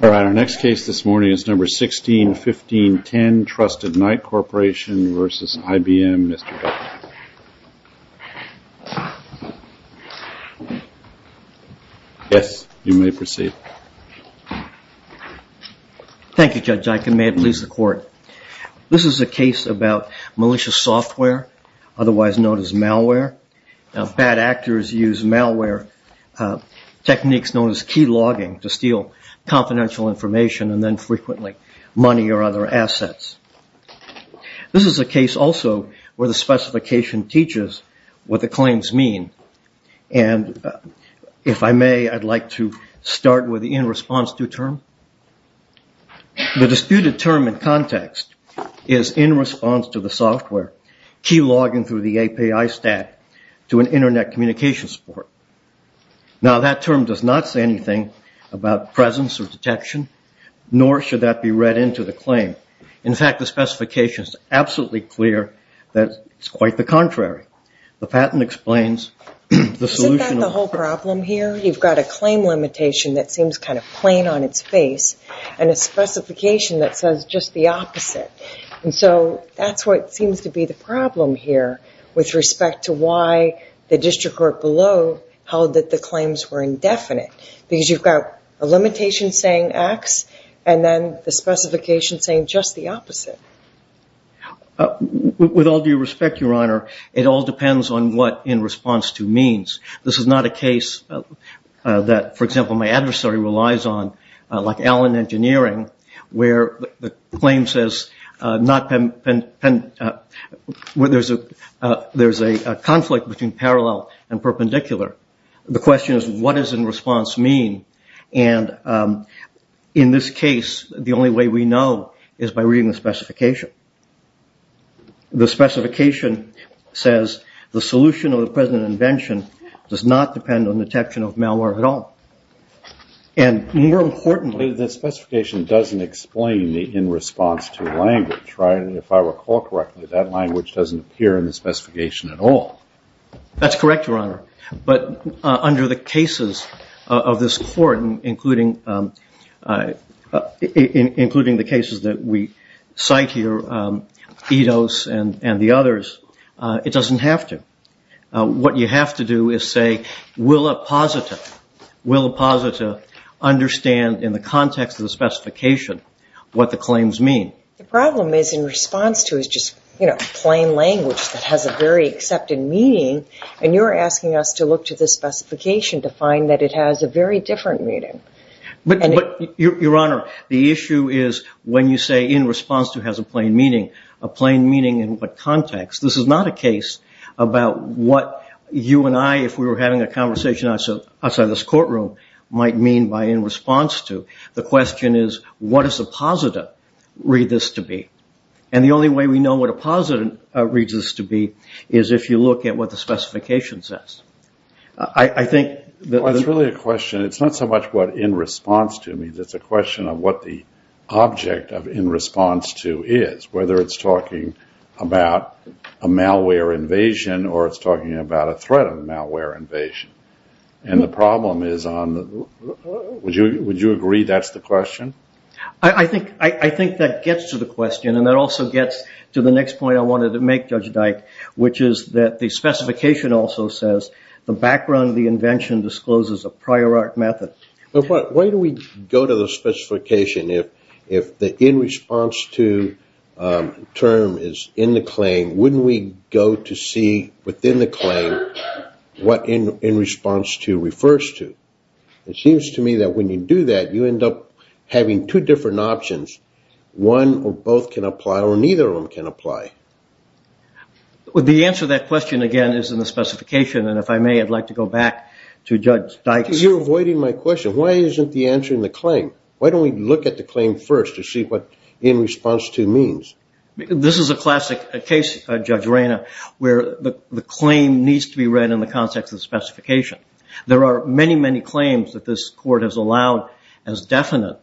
All right, our next case this morning is number 161510, Trusted Knight Corporation v. IBM. Mr. Duffman. Yes, you may proceed. Thank you, Judge Iken. May it please the Court. This is a case about malicious software, otherwise known as malware. Bad actors use malware techniques known as key logging to steal confidential information and then frequently money or other assets. This is a case also where the specification teaches what the claims mean. And if I may, I'd like to start with the in response to term. The disputed term in context is in response to the software. Key logging through the API stack to an internet communication support. Now that term does not say anything about presence or detection, nor should that be read into the claim. In fact, the specification is absolutely clear that it's quite the contrary. The patent explains the solution. Isn't that the whole problem here? You've got a claim limitation that seems kind of plain on its face and a specification that says just the opposite. And so that's what seems to be the problem here with respect to why the district court below held that the claims were indefinite. Because you've got a limitation saying X and then the specification saying just the opposite. With all due respect, Your Honor, it all depends on what in response to means. This is not a case that, for example, my adversary relies on, like Allen Engineering, where the claim says there's a conflict between parallel and perpendicular. The question is what does in response mean? And in this case, the only way we know is by reading the specification. The specification says the solution of the present invention does not depend on detection of malware at all. And more importantly, the specification doesn't explain the in response to language. If I recall correctly, that language doesn't appear in the specification at all. That's correct, Your Honor. But under the cases of this court, including the cases that we cite here, Eidos and the others, it doesn't have to. What you have to do is say, will a positive understand in the context of the specification what the claims mean? The problem is in response to is just plain language that has a very accepted meaning. And you're asking us to look to the specification to find that it has a very different meaning. But, Your Honor, the issue is when you say in response to has a plain meaning. A plain meaning in what context? This is not a case about what you and I, if we were having a conversation outside this courtroom, might mean by in response to. The question is what does a positive read this to be? And the only way we know what a positive reads this to be is if you look at what the specification says. I think that... Well, it's really a question, it's not so much what in response to means, it's a question of what the object of in response to is. Whether it's talking about a malware invasion or it's talking about a threat of a malware invasion. And the problem is on, would you agree that's the question? I think that gets to the question and that also gets to the next point I wanted to make, Judge Dyke, which is that the specification also says the background of the invention discloses a prior art method. But why do we go to the specification if the in response to term is in the claim, wouldn't we go to see within the claim what in response to refers to? It seems to me that when you do that, you end up having two different options. One or both can apply or neither of them can apply. The answer to that question again is in the specification and if I may, I'd like to go back to Judge Dyke's... You're avoiding my question. Why isn't the answer in the claim? Why don't we look at the claim first to see what in response to means? This is a classic case, Judge Reyna, where the claim needs to be read in the context of the specification. There are many, many claims that this court has allowed as definite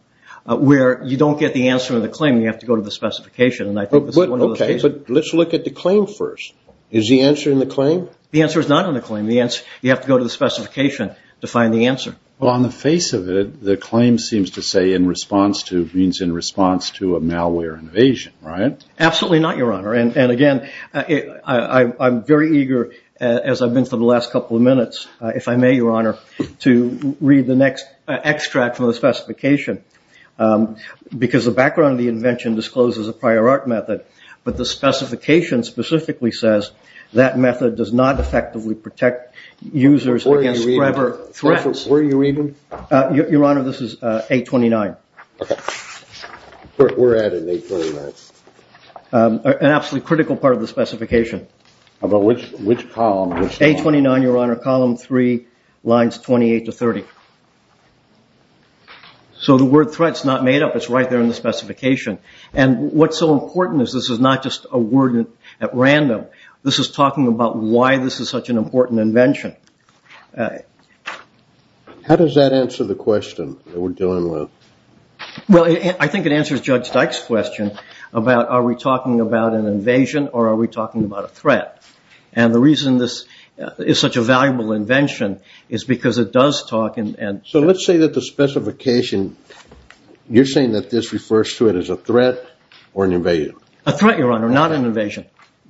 where you don't get the answer in the claim, you have to go to the specification. Okay, but let's look at the claim first. Is the answer in the claim? The answer is not in the claim. You have to go to the specification to find the answer. Well, on the face of it, the claim seems to say in response to means in response to a malware invasion, right? Absolutely not, Your Honor. And again, I'm very eager as I've been for the last couple of minutes, if I may, Your Honor, to read the next extract from the specification because the background of the invention discloses a prior art method, but the specification specifically says that method does not effectively protect users against forever threats. Where are you reading? Your Honor, this is 829. Okay. We're at an 829. An absolutely critical part of the specification. Which column? 829, Your Honor, column 3, lines 28 to 30. So the word threat is not made up. It's right there in the specification. And what's so important is this is not just a word at random. This is talking about why this is such an important invention. How does that answer the question that we're dealing with? Well, I think it answers Judge Dyke's question about are we talking about an invasion or are we talking about a threat. And the reason this is such a valuable invention is because it does talk and – So let's say that the specification, you're saying that this refers to it as a threat or an invasion? A threat, Your Honor, not an invasion.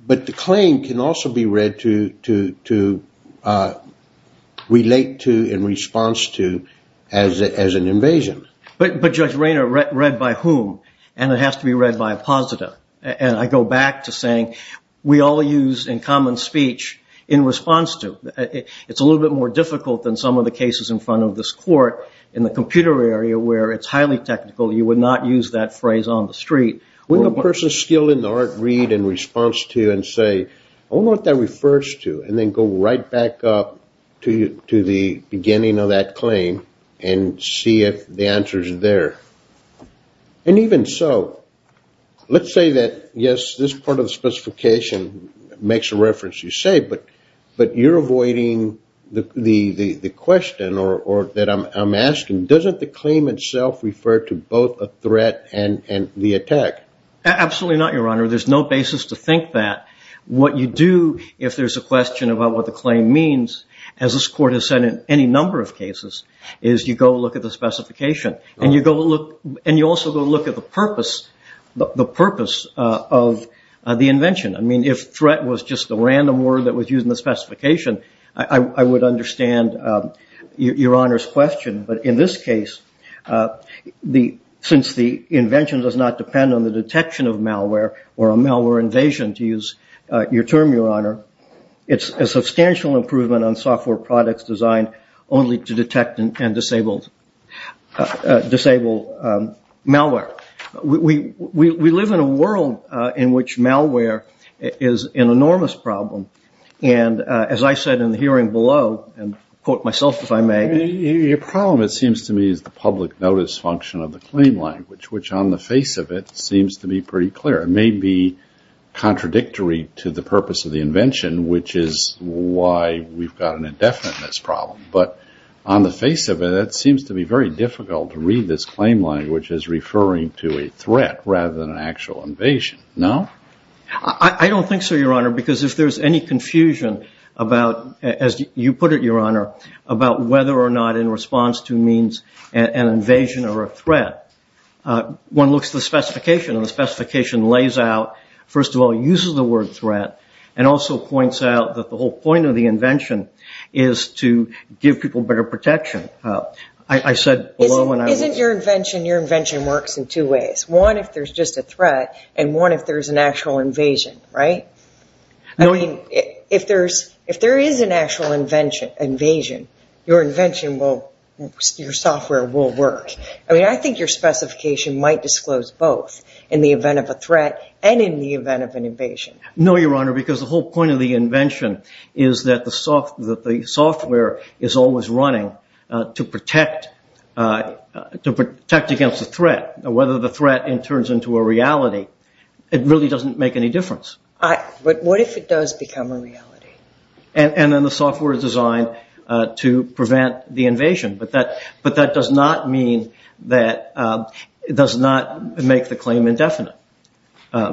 But the claim can also be read to relate to in response to as an invasion. But, Judge Rayner, read by whom? And it has to be read by a positive. And I go back to saying we all use in common speech in response to. It's a little bit more difficult than some of the cases in front of this court in the computer area where it's highly technical. You would not use that phrase on the street. Wouldn't a person skilled in the art read in response to and say, I wonder what that refers to, and then go right back up to the beginning of that claim and see if the answer is there. And even so, let's say that, yes, this part of the specification makes a reference, you say, but you're avoiding the question that I'm asking. Doesn't the claim itself refer to both a threat and the attack? Absolutely not, Your Honor. There's no basis to think that. What you do if there's a question about what the claim means, as this court has said in any number of cases, is you go look at the specification. And you also go look at the purpose of the invention. I mean, if threat was just a random word that was used in the specification, I would understand Your Honor's question. But in this case, since the invention does not depend on the detection of malware or a malware invasion, to use your term, Your Honor, it's a substantial improvement on software products designed only to detect and disable malware. We live in a world in which malware is an enormous problem. And as I said in the hearing below, and quote myself if I may. Your problem, it seems to me, is the public notice function of the claim language, which on the face of it seems to be pretty clear. It may be contradictory to the purpose of the invention, which is why we've got an indefiniteness problem. But on the face of it, it seems to be very difficult to read this claim language as referring to a threat rather than an actual invasion. No? I don't think so, Your Honor, because if there's any confusion about, as you put it, Your Honor, about whether or not in response to means an invasion or a threat, one looks at the specification. And the specification lays out, first of all, uses the word threat, and also points out that the whole point of the invention is to give people better protection. I said below when I was... Isn't your invention, your invention works in two ways. One, if there's just a threat, and one if there's an actual invasion, right? I mean, if there is an actual invasion, your invention will, your software will work. I mean, I think your specification might disclose both in the event of a threat and in the event of an invasion. No, Your Honor, because the whole point of the invention is that the software is always running to protect against a threat, and whether the threat turns into a reality, it really doesn't make any difference. But what if it does become a reality? And then the software is designed to prevent the invasion, but that does not mean that it does not make the claim indefinite,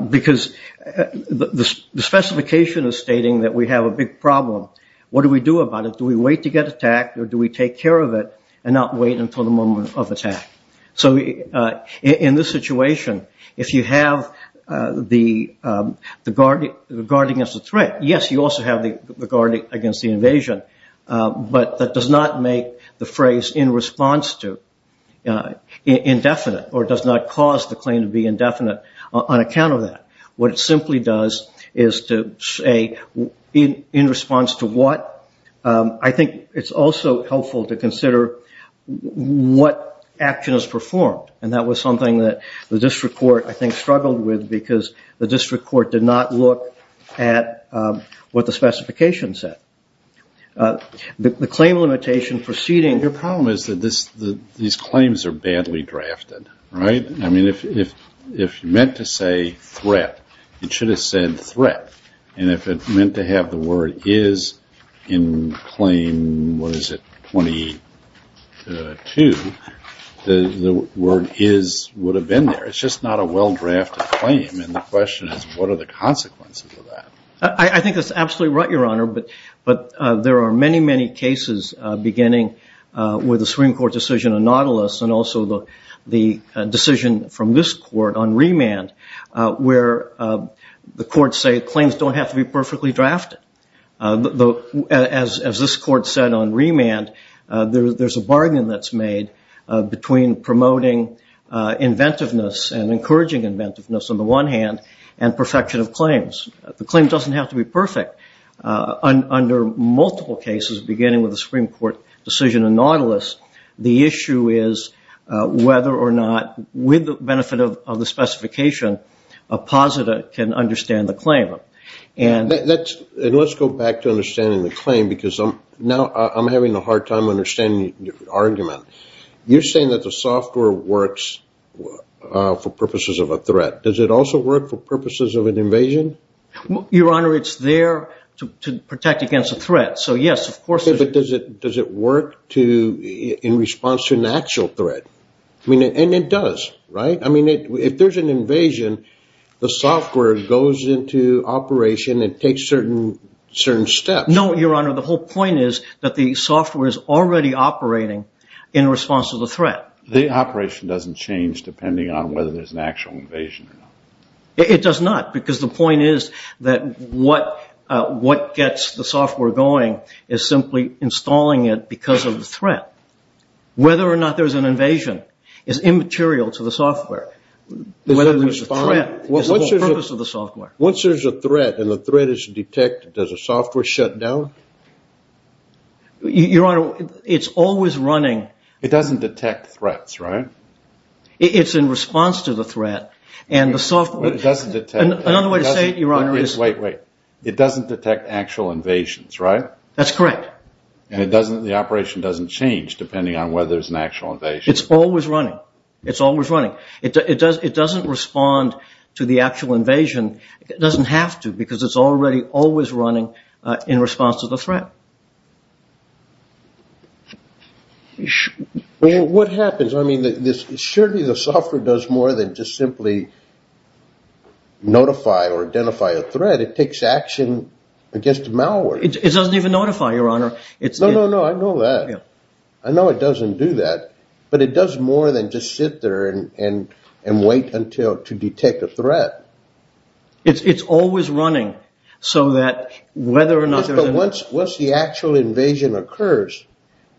because the specification is stating that we have a big problem. What do we do about it? Do we wait to get attacked, or do we take care of it and not wait until the moment of attack? So in this situation, if you have the guard against the threat, yes, you also have the guard against the invasion, but that does not make the phrase in response to indefinite, or does not cause the claim to be indefinite on account of that. What it simply does is to say in response to what. I think it's also helpful to consider what action is performed, and that was something that the district court, I think, struggled with because the district court did not look at what the specification said. The claim limitation proceeding. Your problem is that these claims are badly drafted, right? I mean, if you meant to say threat, it should have said threat, and if it meant to have the word is in claim, what is it, 22, the word is would have been there. It's just not a well-drafted claim, and the question is what are the consequences of that? I think that's absolutely right, Your Honor, but there are many, many cases beginning with the Supreme Court decision on Nautilus and also the decision from this court on remand where the courts say claims don't have to be perfectly drafted. As this court said on remand, there's a bargain that's made between promoting inventiveness and encouraging inventiveness on the one hand and perfection of claims. The claim doesn't have to be perfect. Under multiple cases beginning with the Supreme Court decision on Nautilus, the issue is whether or not, with the benefit of the specification, a positive can understand the claim. Let's go back to understanding the claim because now I'm having a hard time understanding your argument. You're saying that the software works for purposes of a threat. Does it also work for purposes of an invasion? Your Honor, it's there to protect against a threat. But does it work in response to an actual threat? And it does, right? If there's an invasion, the software goes into operation and takes certain steps. No, Your Honor, the whole point is that the software is already operating in response to the threat. The operation doesn't change depending on whether there's an actual invasion or not. It does not because the point is that what gets the software going is simply installing it because of the threat. Whether or not there's an invasion is immaterial to the software. Whether there's a threat is the whole purpose of the software. Once there's a threat and the threat is detected, does the software shut down? Your Honor, it's always running. It doesn't detect threats, right? It's in response to the threat. Another way to say it, Your Honor, is... Wait, wait. It doesn't detect actual invasions, right? That's correct. And the operation doesn't change depending on whether there's an actual invasion. It's always running. It's always running. It doesn't respond to the actual invasion. It doesn't have to because it's already always running in response to the threat. What happens? Surely the software does more than just simply notify or identify a threat. It takes action against malware. It doesn't even notify, Your Honor. No, no, no. I know that. I know it doesn't do that, but it does more than just sit there and wait to detect a threat. It's always running so that whether or not... Once the actual invasion occurs,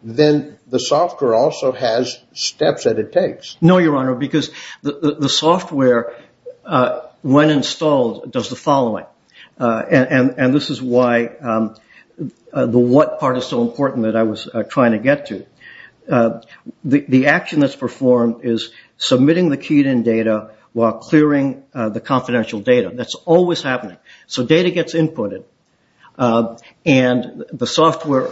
then the software also has steps that it takes. No, Your Honor, because the software, when installed, does the following. And this is why the what part is so important that I was trying to get to. The action that's performed is submitting the keyed-in data while clearing the confidential data. That's always happening. So data gets inputted, and the software,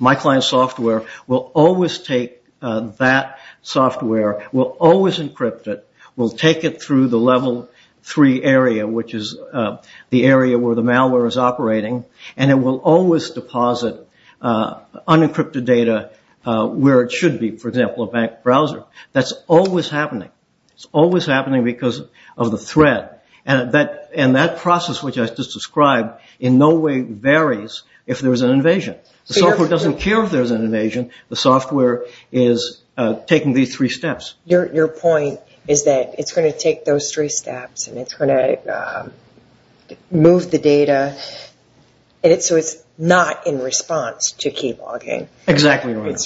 my client's software, will always take that software, will always encrypt it, will take it through the level three area, which is the area where the malware is operating, and it will always deposit unencrypted data where it should be, for example, a bank browser. That's always happening. It's always happening because of the threat. And that process, which I just described, in no way varies if there's an invasion. The software doesn't care if there's an invasion. The software is taking these three steps. Your point is that it's going to take those three steps, and it's going to move the data, so it's not in response to key logging. Exactly right.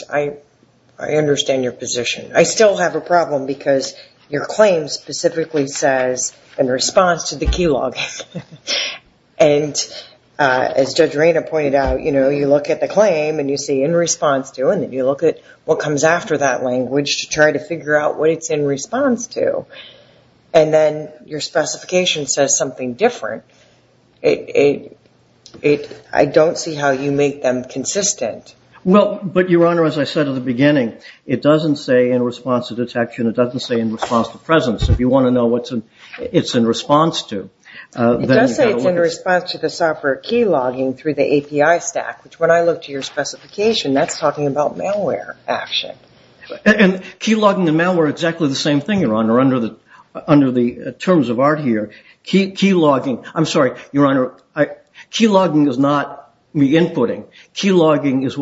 I understand your position. I still have a problem because your claim specifically says in response to the key logging. And as Judge Reyna pointed out, you look at the claim and you see in response to, and then you look at what comes after that language to try to figure out what it's in response to. And then your specification says something different. I don't see how you make them consistent. Well, but, Your Honor, as I said at the beginning, it doesn't say in response to detection. It doesn't say in response to presence. If you want to know what it's in response to, then you've got to look at it. It does say it's in response to the software key logging through the API stack, which when I look to your specification, that's talking about malware action. And key logging and malware are exactly the same thing, Your Honor, under the terms of art here. I'm sorry, Your Honor, key logging is not re-inputting. Key logging is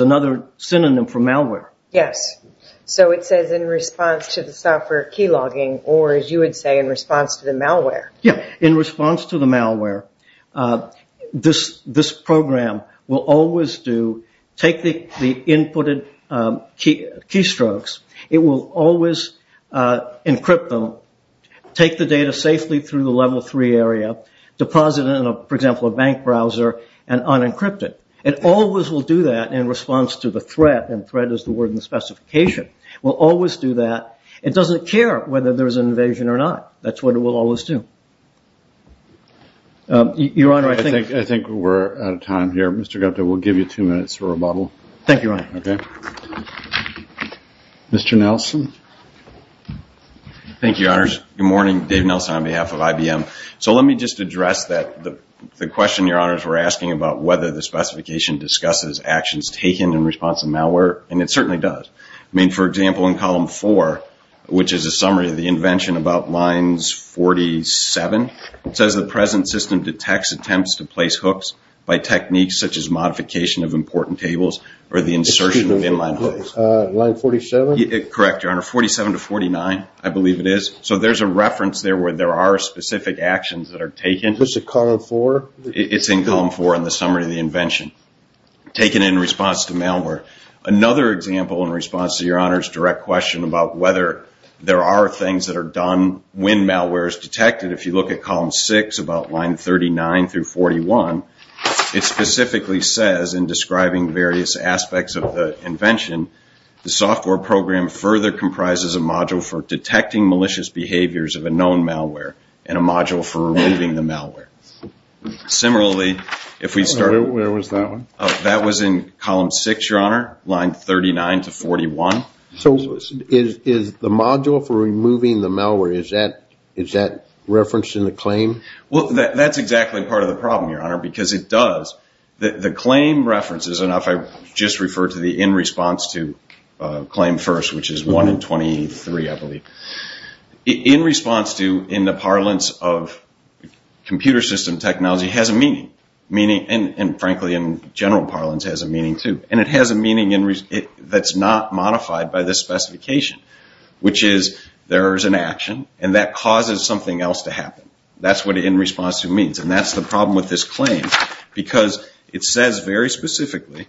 another synonym for malware. Yes. So it says in response to the software key logging or, as you would say, in response to the malware. Yeah. In response to the malware, this program will always do, take the inputted key strokes, it will always encrypt them, take the data safely through the level three area, deposit it in, for example, a bank browser, and unencrypt it. It always will do that in response to the threat, and threat is the word in the specification, will always do that. It doesn't care whether there's an invasion or not. That's what it will always do. Your Honor, I think we're out of time here. Mr. Gupta, we'll give you two minutes for a rebuttal. Thank you, Your Honor. Okay. Mr. Nelson. Thank you, Your Honors. Good morning. Dave Nelson on behalf of IBM. So let me just address the question Your Honors were asking about whether the specification discusses actions taken in response to malware, and it certainly does. I mean, for example, in column four, which is a summary of the invention about lines 47, it says the present system detects attempts to place hooks by techniques such as modification of important tables or the insertion of inline hooks. Line 47? Correct, Your Honor. 47 to 49, I believe it is. So there's a reference there where there are specific actions that are taken. Was it column four? It's in column four in the summary of the invention, taken in response to malware. Another example in response to Your Honor's direct question about whether there are things that are done when malware is detected, if you look at column six about line 39 through 41, it specifically says, in describing various aspects of the invention, the software program further comprises a module for detecting malicious behaviors of a known malware and a module for removing the malware. Similarly, if we start with that one, that was in column six, Your Honor, line 39 to 41. So is the module for removing the malware, is that referenced in the claim? Well, that's exactly part of the problem, Your Honor, because it does. The claim references, and if I just refer to the in response to claim first, which is one in 23, I believe. In response to in the parlance of computer system technology has a meaning, and frankly in general parlance has a meaning too, and it has a meaning that's not modified by this specification, which is there is an action and that causes something else to happen. That's what in response to means, and that's the problem with this claim, because it says very specifically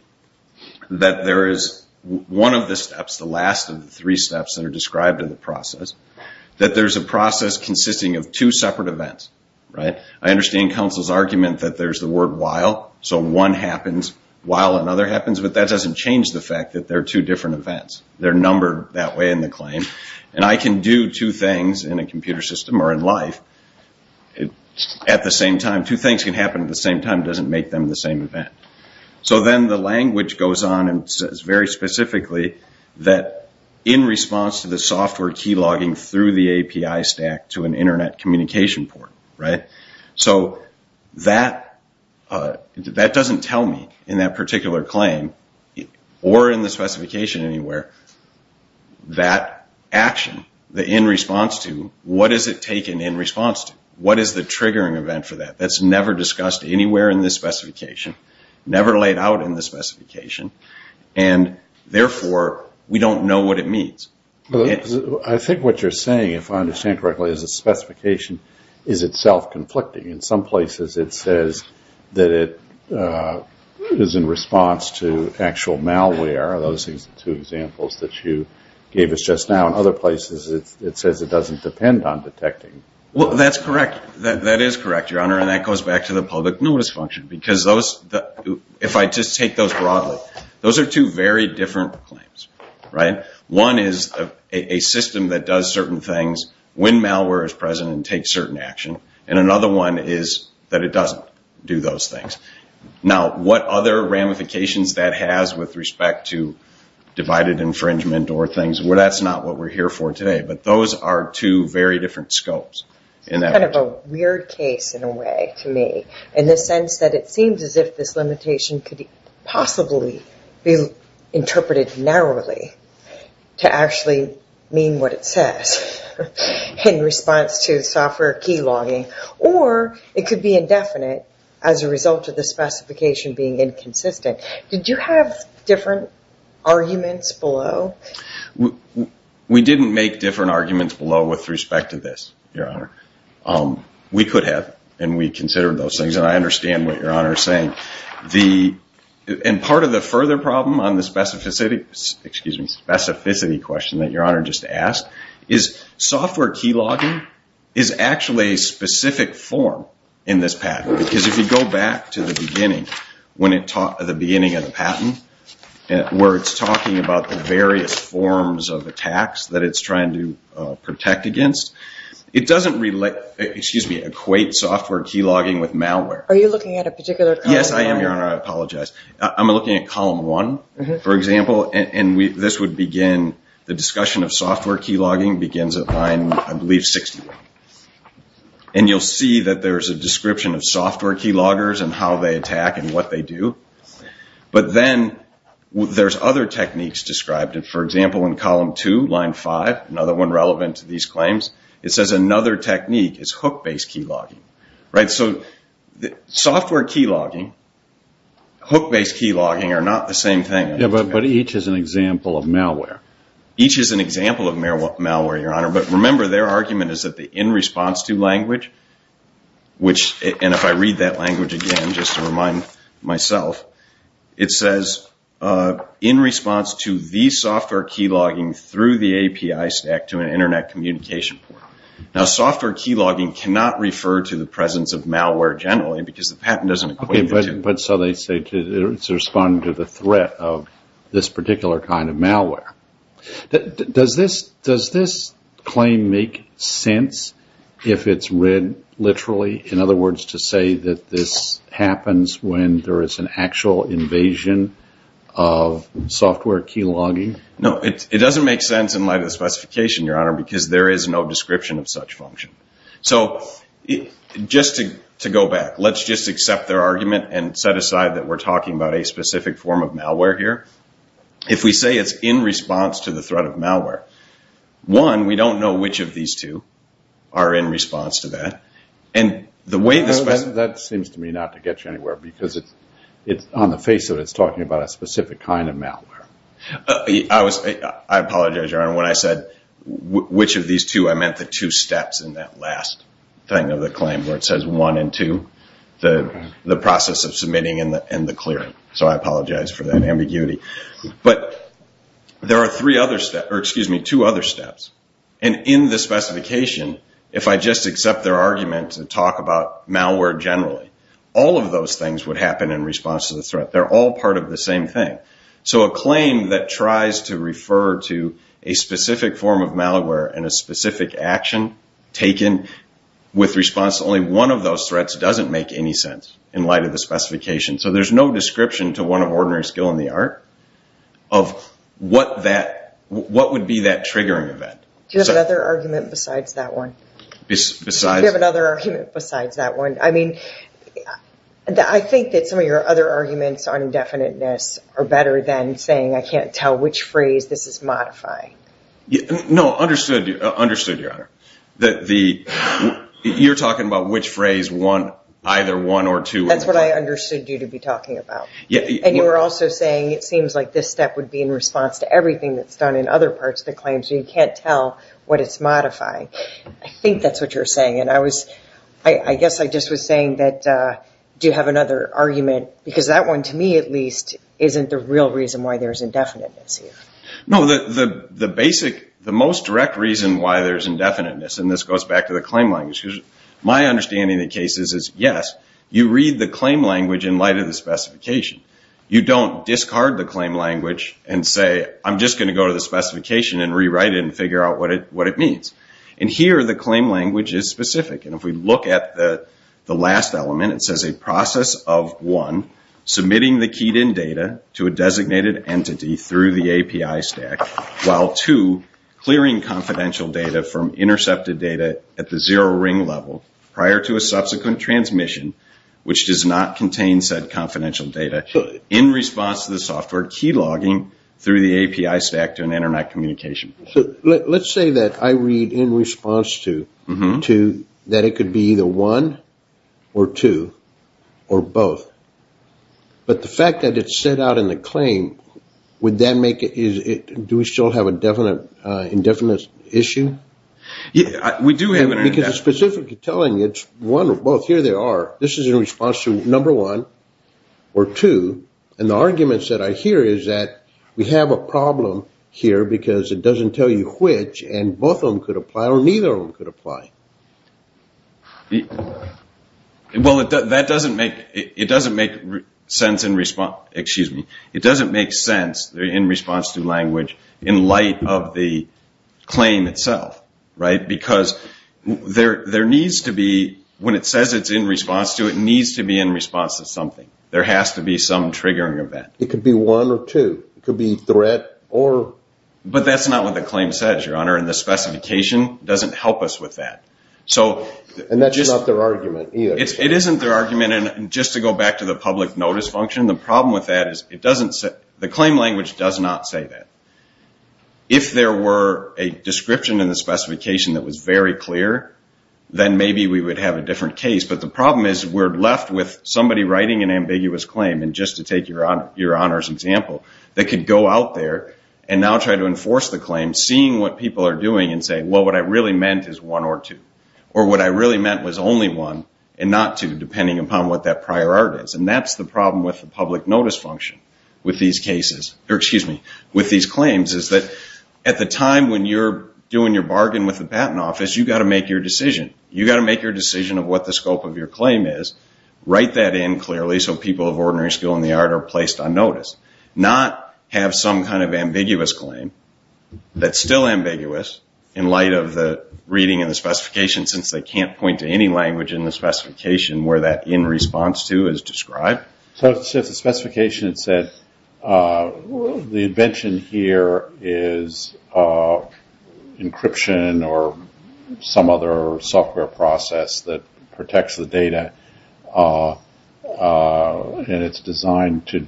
that there is one of the steps, the last of the three steps that are described in the process, that there's a process consisting of two separate events. I understand counsel's argument that there's the word while, so one happens while another happens, but that doesn't change the fact that there are two different events. They're numbered that way in the claim. And I can do two things in a computer system or in life at the same time. Two things can happen at the same time. It doesn't make them the same event. So then the language goes on and says very specifically that in response to the software key logging through the API stack to an internet communication port. So that doesn't tell me in that particular claim or in the specification anywhere that action, the in response to, what is it taken in response to? What is the triggering event for that? That's never discussed anywhere in this specification, never laid out in this specification, and therefore we don't know what it means. I think what you're saying, if I understand correctly, is the specification is itself conflicting. In some places it says that it is in response to actual malware, those two examples that you gave us just now. In other places it says it doesn't depend on detecting. Well, that's correct. That is correct, Your Honor. And that goes back to the public notice function because those, if I just take those broadly, those are two very different claims, right? One is a system that does certain things when malware is present and takes certain action. And another one is that it doesn't do those things. Now, what other ramifications that has with respect to divided infringement or things, well, that's not what we're here for today. But those are two very different scopes. It's kind of a weird case in a way to me in the sense that it seems as if this limitation could possibly be interpreted narrowly to actually mean what it says in response to software key logging. Or it could be indefinite as a result of the specification being inconsistent. Did you have different arguments below? We didn't make different arguments below with respect to this, Your Honor. We could have, and we considered those things. And I understand what Your Honor is saying. And part of the further problem on the specificity question that Your Honor just asked is software key logging is actually a specific form in this patent. Because if you go back to the beginning of the patent where it's talking about the various forms of attacks that it's trying to protect against, it doesn't equate software key logging with malware. Are you looking at a particular column? Yes, I am, Your Honor. I apologize. I'm looking at column one, for example. And this would begin the discussion of software key logging begins at line, I believe, 61. And you'll see that there's a description of software key loggers and how they attack and what they do. But then there's other techniques described. For example, in column two, line five, another one relevant to these claims, it says another technique is hook-based key logging. So software key logging, hook-based key logging are not the same thing. Yeah, but each is an example of malware. Each is an example of malware, Your Honor. But remember, their argument is that the in-response-to language, and if I read that language again, just to remind myself, it says in response to the software key logging through the API stack to an Internet communication port. Now, software key logging cannot refer to the presence of malware generally because the patent doesn't equate the two. Okay, but so they say it's responding to the threat of this particular kind of malware. Does this claim make sense if it's read literally? In other words, to say that this happens when there is an actual invasion of software key logging? No, it doesn't make sense in light of the specification, Your Honor, because there is no description of such function. So just to go back, let's just accept their argument and set aside that we're talking about a specific form of malware here. If we say it's in response to the threat of malware, one, we don't know which of these two are in response to that. That seems to me not to get you anywhere because on the face of it, it's talking about a specific kind of malware. I apologize, Your Honor. When I said which of these two, I meant the two steps in that last thing of the claim where it says one and two, the process of submitting and the clearing. So I apologize for that ambiguity. But there are two other steps. And in the specification, if I just accept their argument and talk about malware generally, all of those things would happen in response to the threat. They're all part of the same thing. So a claim that tries to refer to a specific form of malware and a specific action taken with response to only one of those threats doesn't make any sense in light of the specification. So there's no description to one of ordinary skill in the art of what would be that triggering event. Do you have another argument besides that one? Besides? Do you have another argument besides that one? I mean, I think that some of your other arguments on indefiniteness are better than saying I can't tell which phrase this is modifying. No, understood, Your Honor. You're talking about which phrase either one or two. That's what I understood you to be talking about. And you were also saying it seems like this step would be in response to everything that's done in other parts of the claim, so you can't tell what it's modifying. I think that's what you're saying. And I guess I just was saying that do you have another argument? Because that one, to me at least, isn't the real reason why there's indefiniteness here. No, the most direct reason why there's indefiniteness, and this goes back to the claim language, because my understanding of the case is, yes, you read the claim language in light of the specification. You don't discard the claim language and say I'm just going to go to the specification and rewrite it and figure out what it means. And here the claim language is specific. And if we look at the last element, it says a process of, one, submitting the keyed-in data to a designated entity through the API stack, while, two, clearing confidential data from intercepted data at the zero-ring level prior to a subsequent transmission, which does not contain said confidential data in response to the software key logging through the API stack to an Internet communication. So let's say that I read in response to that it could be either one or two or both. But the fact that it's set out in the claim, would that make it, do we still have an indefiniteness issue? We do have an indefiniteness issue. Because it's specifically telling you it's one or both. Here they are. This is in response to number one or two. And the arguments that I hear is that we have a problem here because it doesn't tell you which, and both of them could apply or neither of them could apply. Well, that doesn't make, it doesn't make sense in response, excuse me, it doesn't make sense in response to language in light of the claim itself. Right? Because there needs to be, when it says it's in response to, it needs to be in response to something. There has to be some triggering event. It could be one or two. It could be threat or. But that's not what the claim says, Your Honor. And the specification doesn't help us with that. And that's not their argument either. It isn't their argument. And just to go back to the public notice function, the problem with that is it doesn't, the claim language does not say that. If there were a description in the specification that was very clear, then maybe we would have a different case. But the problem is we're left with somebody writing an ambiguous claim, and just to take Your Honor's example, that could go out there and now try to enforce the claim, seeing what people are doing and saying, Well, what I really meant is one or two. Or what I really meant was only one and not two, depending upon what that prior art is. And that's the problem with the public notice function with these cases, or excuse me, with these claims, is that at the time when you're doing your bargain with the patent office, you've got to make your decision. You've got to make your decision of what the scope of your claim is, write that in clearly so people of ordinary skill in the art are placed on notice. Not have some kind of ambiguous claim that's still ambiguous, in light of the reading in the specification, since they can't point to any language in the specification where that in response to is described. So it's just a specification that said the invention here is encryption or some other software process that protects the data, and it's designed to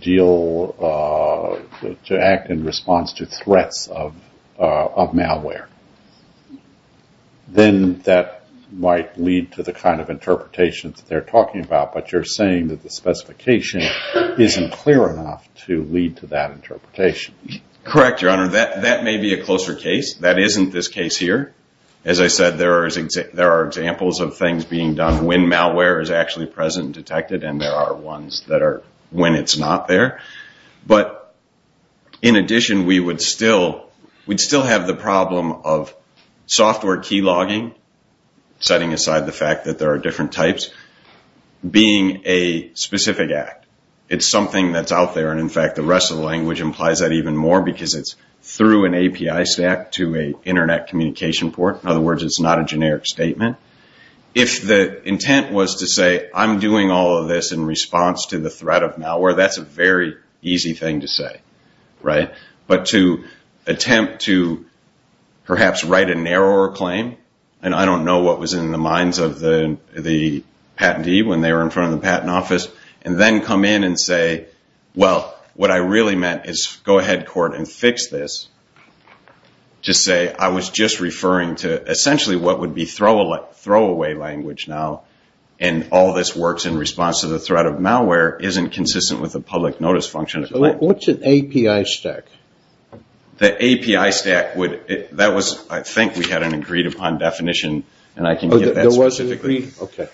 act in response to threats of malware. Then that might lead to the kind of interpretation that they're talking about, but you're saying that the specification isn't clear enough to lead to that interpretation. Correct, Your Honor. That may be a closer case. That isn't this case here. As I said, there are examples of things being done when malware is actually present and detected, and there are ones that are when it's not there. But in addition, we would still have the problem of software key logging, setting aside the fact that there are different types, being a specific act. It's something that's out there, and in fact, the rest of the language implies that even more, because it's through an API stack to an Internet communication port. In other words, it's not a generic statement. If the intent was to say, I'm doing all of this in response to the threat of malware, that's a very easy thing to say, right? But to attempt to perhaps write a narrower claim, and I don't know what was in the minds of the patentee when they were in front of the patent office, and then come in and say, well, what I really meant is go ahead, court, and fix this, to say I was just referring to essentially what would be throwaway language now, and all this works in response to the threat of malware isn't consistent with the public notice function. So what's an API stack? The API stack, I think we had an agreed upon definition, and I can give that specifically. Okay.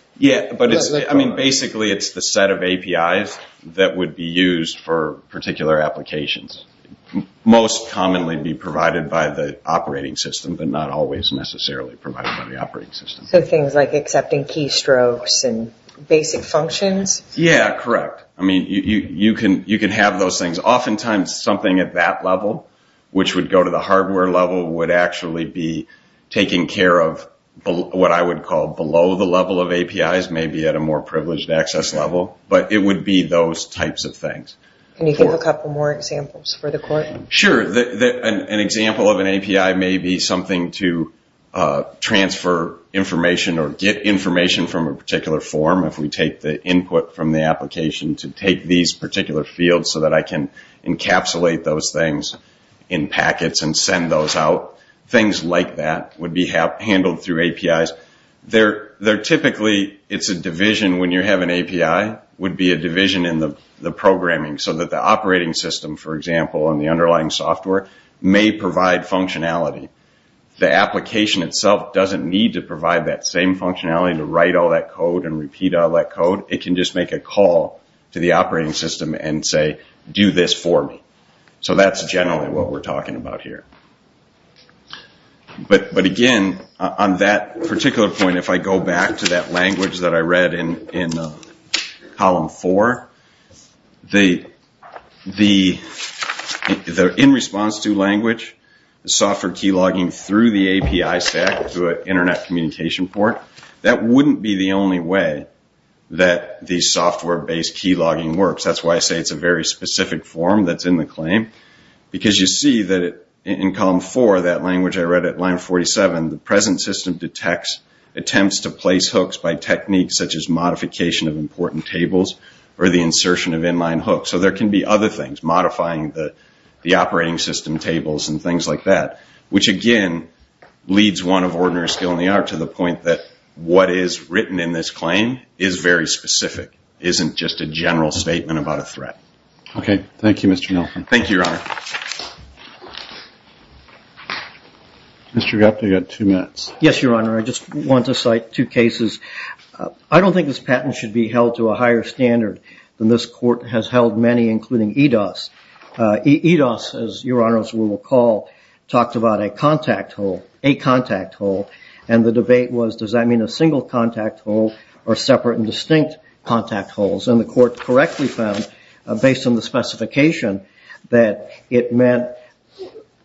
Basically, it's the set of APIs that would be used for particular applications. Most commonly be provided by the operating system, but not always necessarily provided by the operating system. So things like accepting keystrokes and basic functions? Yeah, correct. I mean, you can have those things. Oftentimes, something at that level, which would go to the hardware level, would actually be taking care of what I would call below the level of APIs, maybe at a more privileged access level, but it would be those types of things. Can you give a couple more examples for the court? Sure. An example of an API may be something to transfer information or get information from a particular form if we take the input from the application to take these particular fields so that I can encapsulate those things in packets and send those out. Things like that would be handled through APIs. Typically, it's a division when you have an API would be a division in the programming so that the operating system, for example, and the underlying software may provide functionality. The application itself doesn't need to provide that same functionality to write all that code and repeat all that code. It can just make a call to the operating system and say, do this for me. So that's generally what we're talking about here. But again, on that particular point, if I go back to that language that I read in column four, the in-response-to language, the software key logging through the API stack to an internet communication port, that wouldn't be the only way that the software-based key logging works. That's why I say it's a very specific form that's in the claim because you see that in column four, that language I read at line 47, the present system detects attempts to place hooks by techniques such as modification of important tables or the insertion of inline hooks. So there can be other things, modifying the operating system tables and things like that, which again leads one of ordinary skill in the art to the point that what is written in this claim is very specific, isn't just a general statement about a threat. Okay. Thank you, Mr. Nelson. Thank you, Your Honor. Mr. Gupta, you've got two minutes. Yes, Your Honor. I just want to cite two cases. I don't think this patent should be held to a higher standard than this court has held many, including EDOS. EDOS, as Your Honor will recall, talked about a contact hole, a contact hole, and the debate was does that mean a single contact hole or separate and distinct contact holes? And the court correctly found, based on the specification, that it meant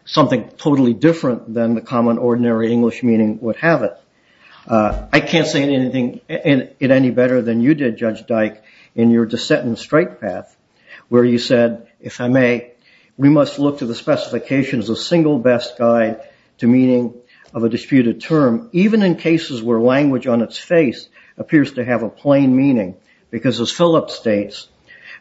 something totally different than the common ordinary English meaning would have it. I can't say it any better than you did, Judge Dyke, in your dissent and strike path, where you said, if I may, we must look to the specification as a single best guide to meaning of a disputed term, even in cases where language on its face appears to have a plain meaning, because as Phillips states,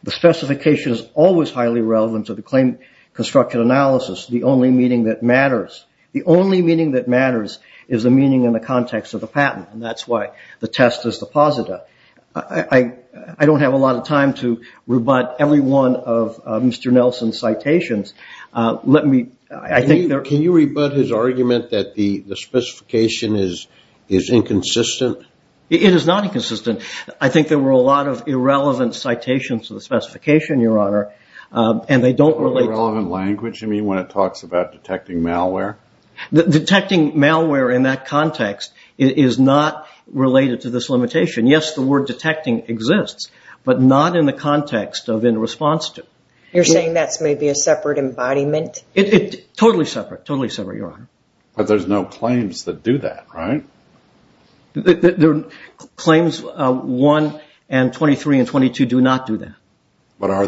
the specification is always highly relevant to the claim construction analysis. The only meaning that matters, the only meaning that matters is the meaning in the context of the patent, and that's why the test is the posita. I don't have a lot of time to rebut every one of Mr. Nelson's citations. Can you rebut his argument that the specification is inconsistent? It is not inconsistent. I think there were a lot of irrelevant citations to the specification, Your Honor, and they don't relate. Irrelevant language, you mean, when it talks about detecting malware? Detecting malware in that context is not related to this limitation. Yes, the word detecting exists, but not in the context of in response to. You're saying that's maybe a separate embodiment? Totally separate, totally separate, Your Honor. But there's no claims that do that, right? Claims 1 and 23 and 22 do not do that. But are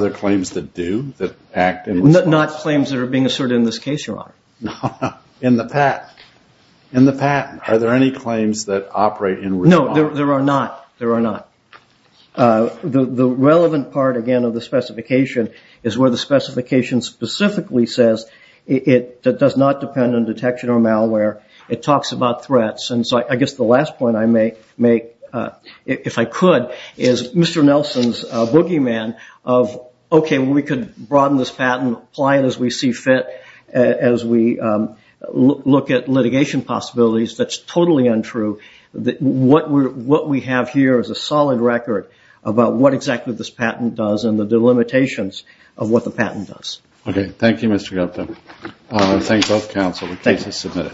there claims that do, that act in response? Not claims that are being asserted in this case, Your Honor. In the patent. In the patent. Are there any claims that operate in response? No, there are not. There are not. The relevant part, again, of the specification is where the specification specifically says it does not depend on detection or malware. It talks about threats, and so I guess the last point I make, if I could, is Mr. Nelson's boogeyman of, okay, we could broaden this patent, apply it as we see fit, as we look at litigation possibilities. That's totally untrue. What we have here is a solid record about what exactly this patent does and the limitations of what the patent does. Okay. Thank you, Mr. Gupta. I thank both counsel. The case is submitted.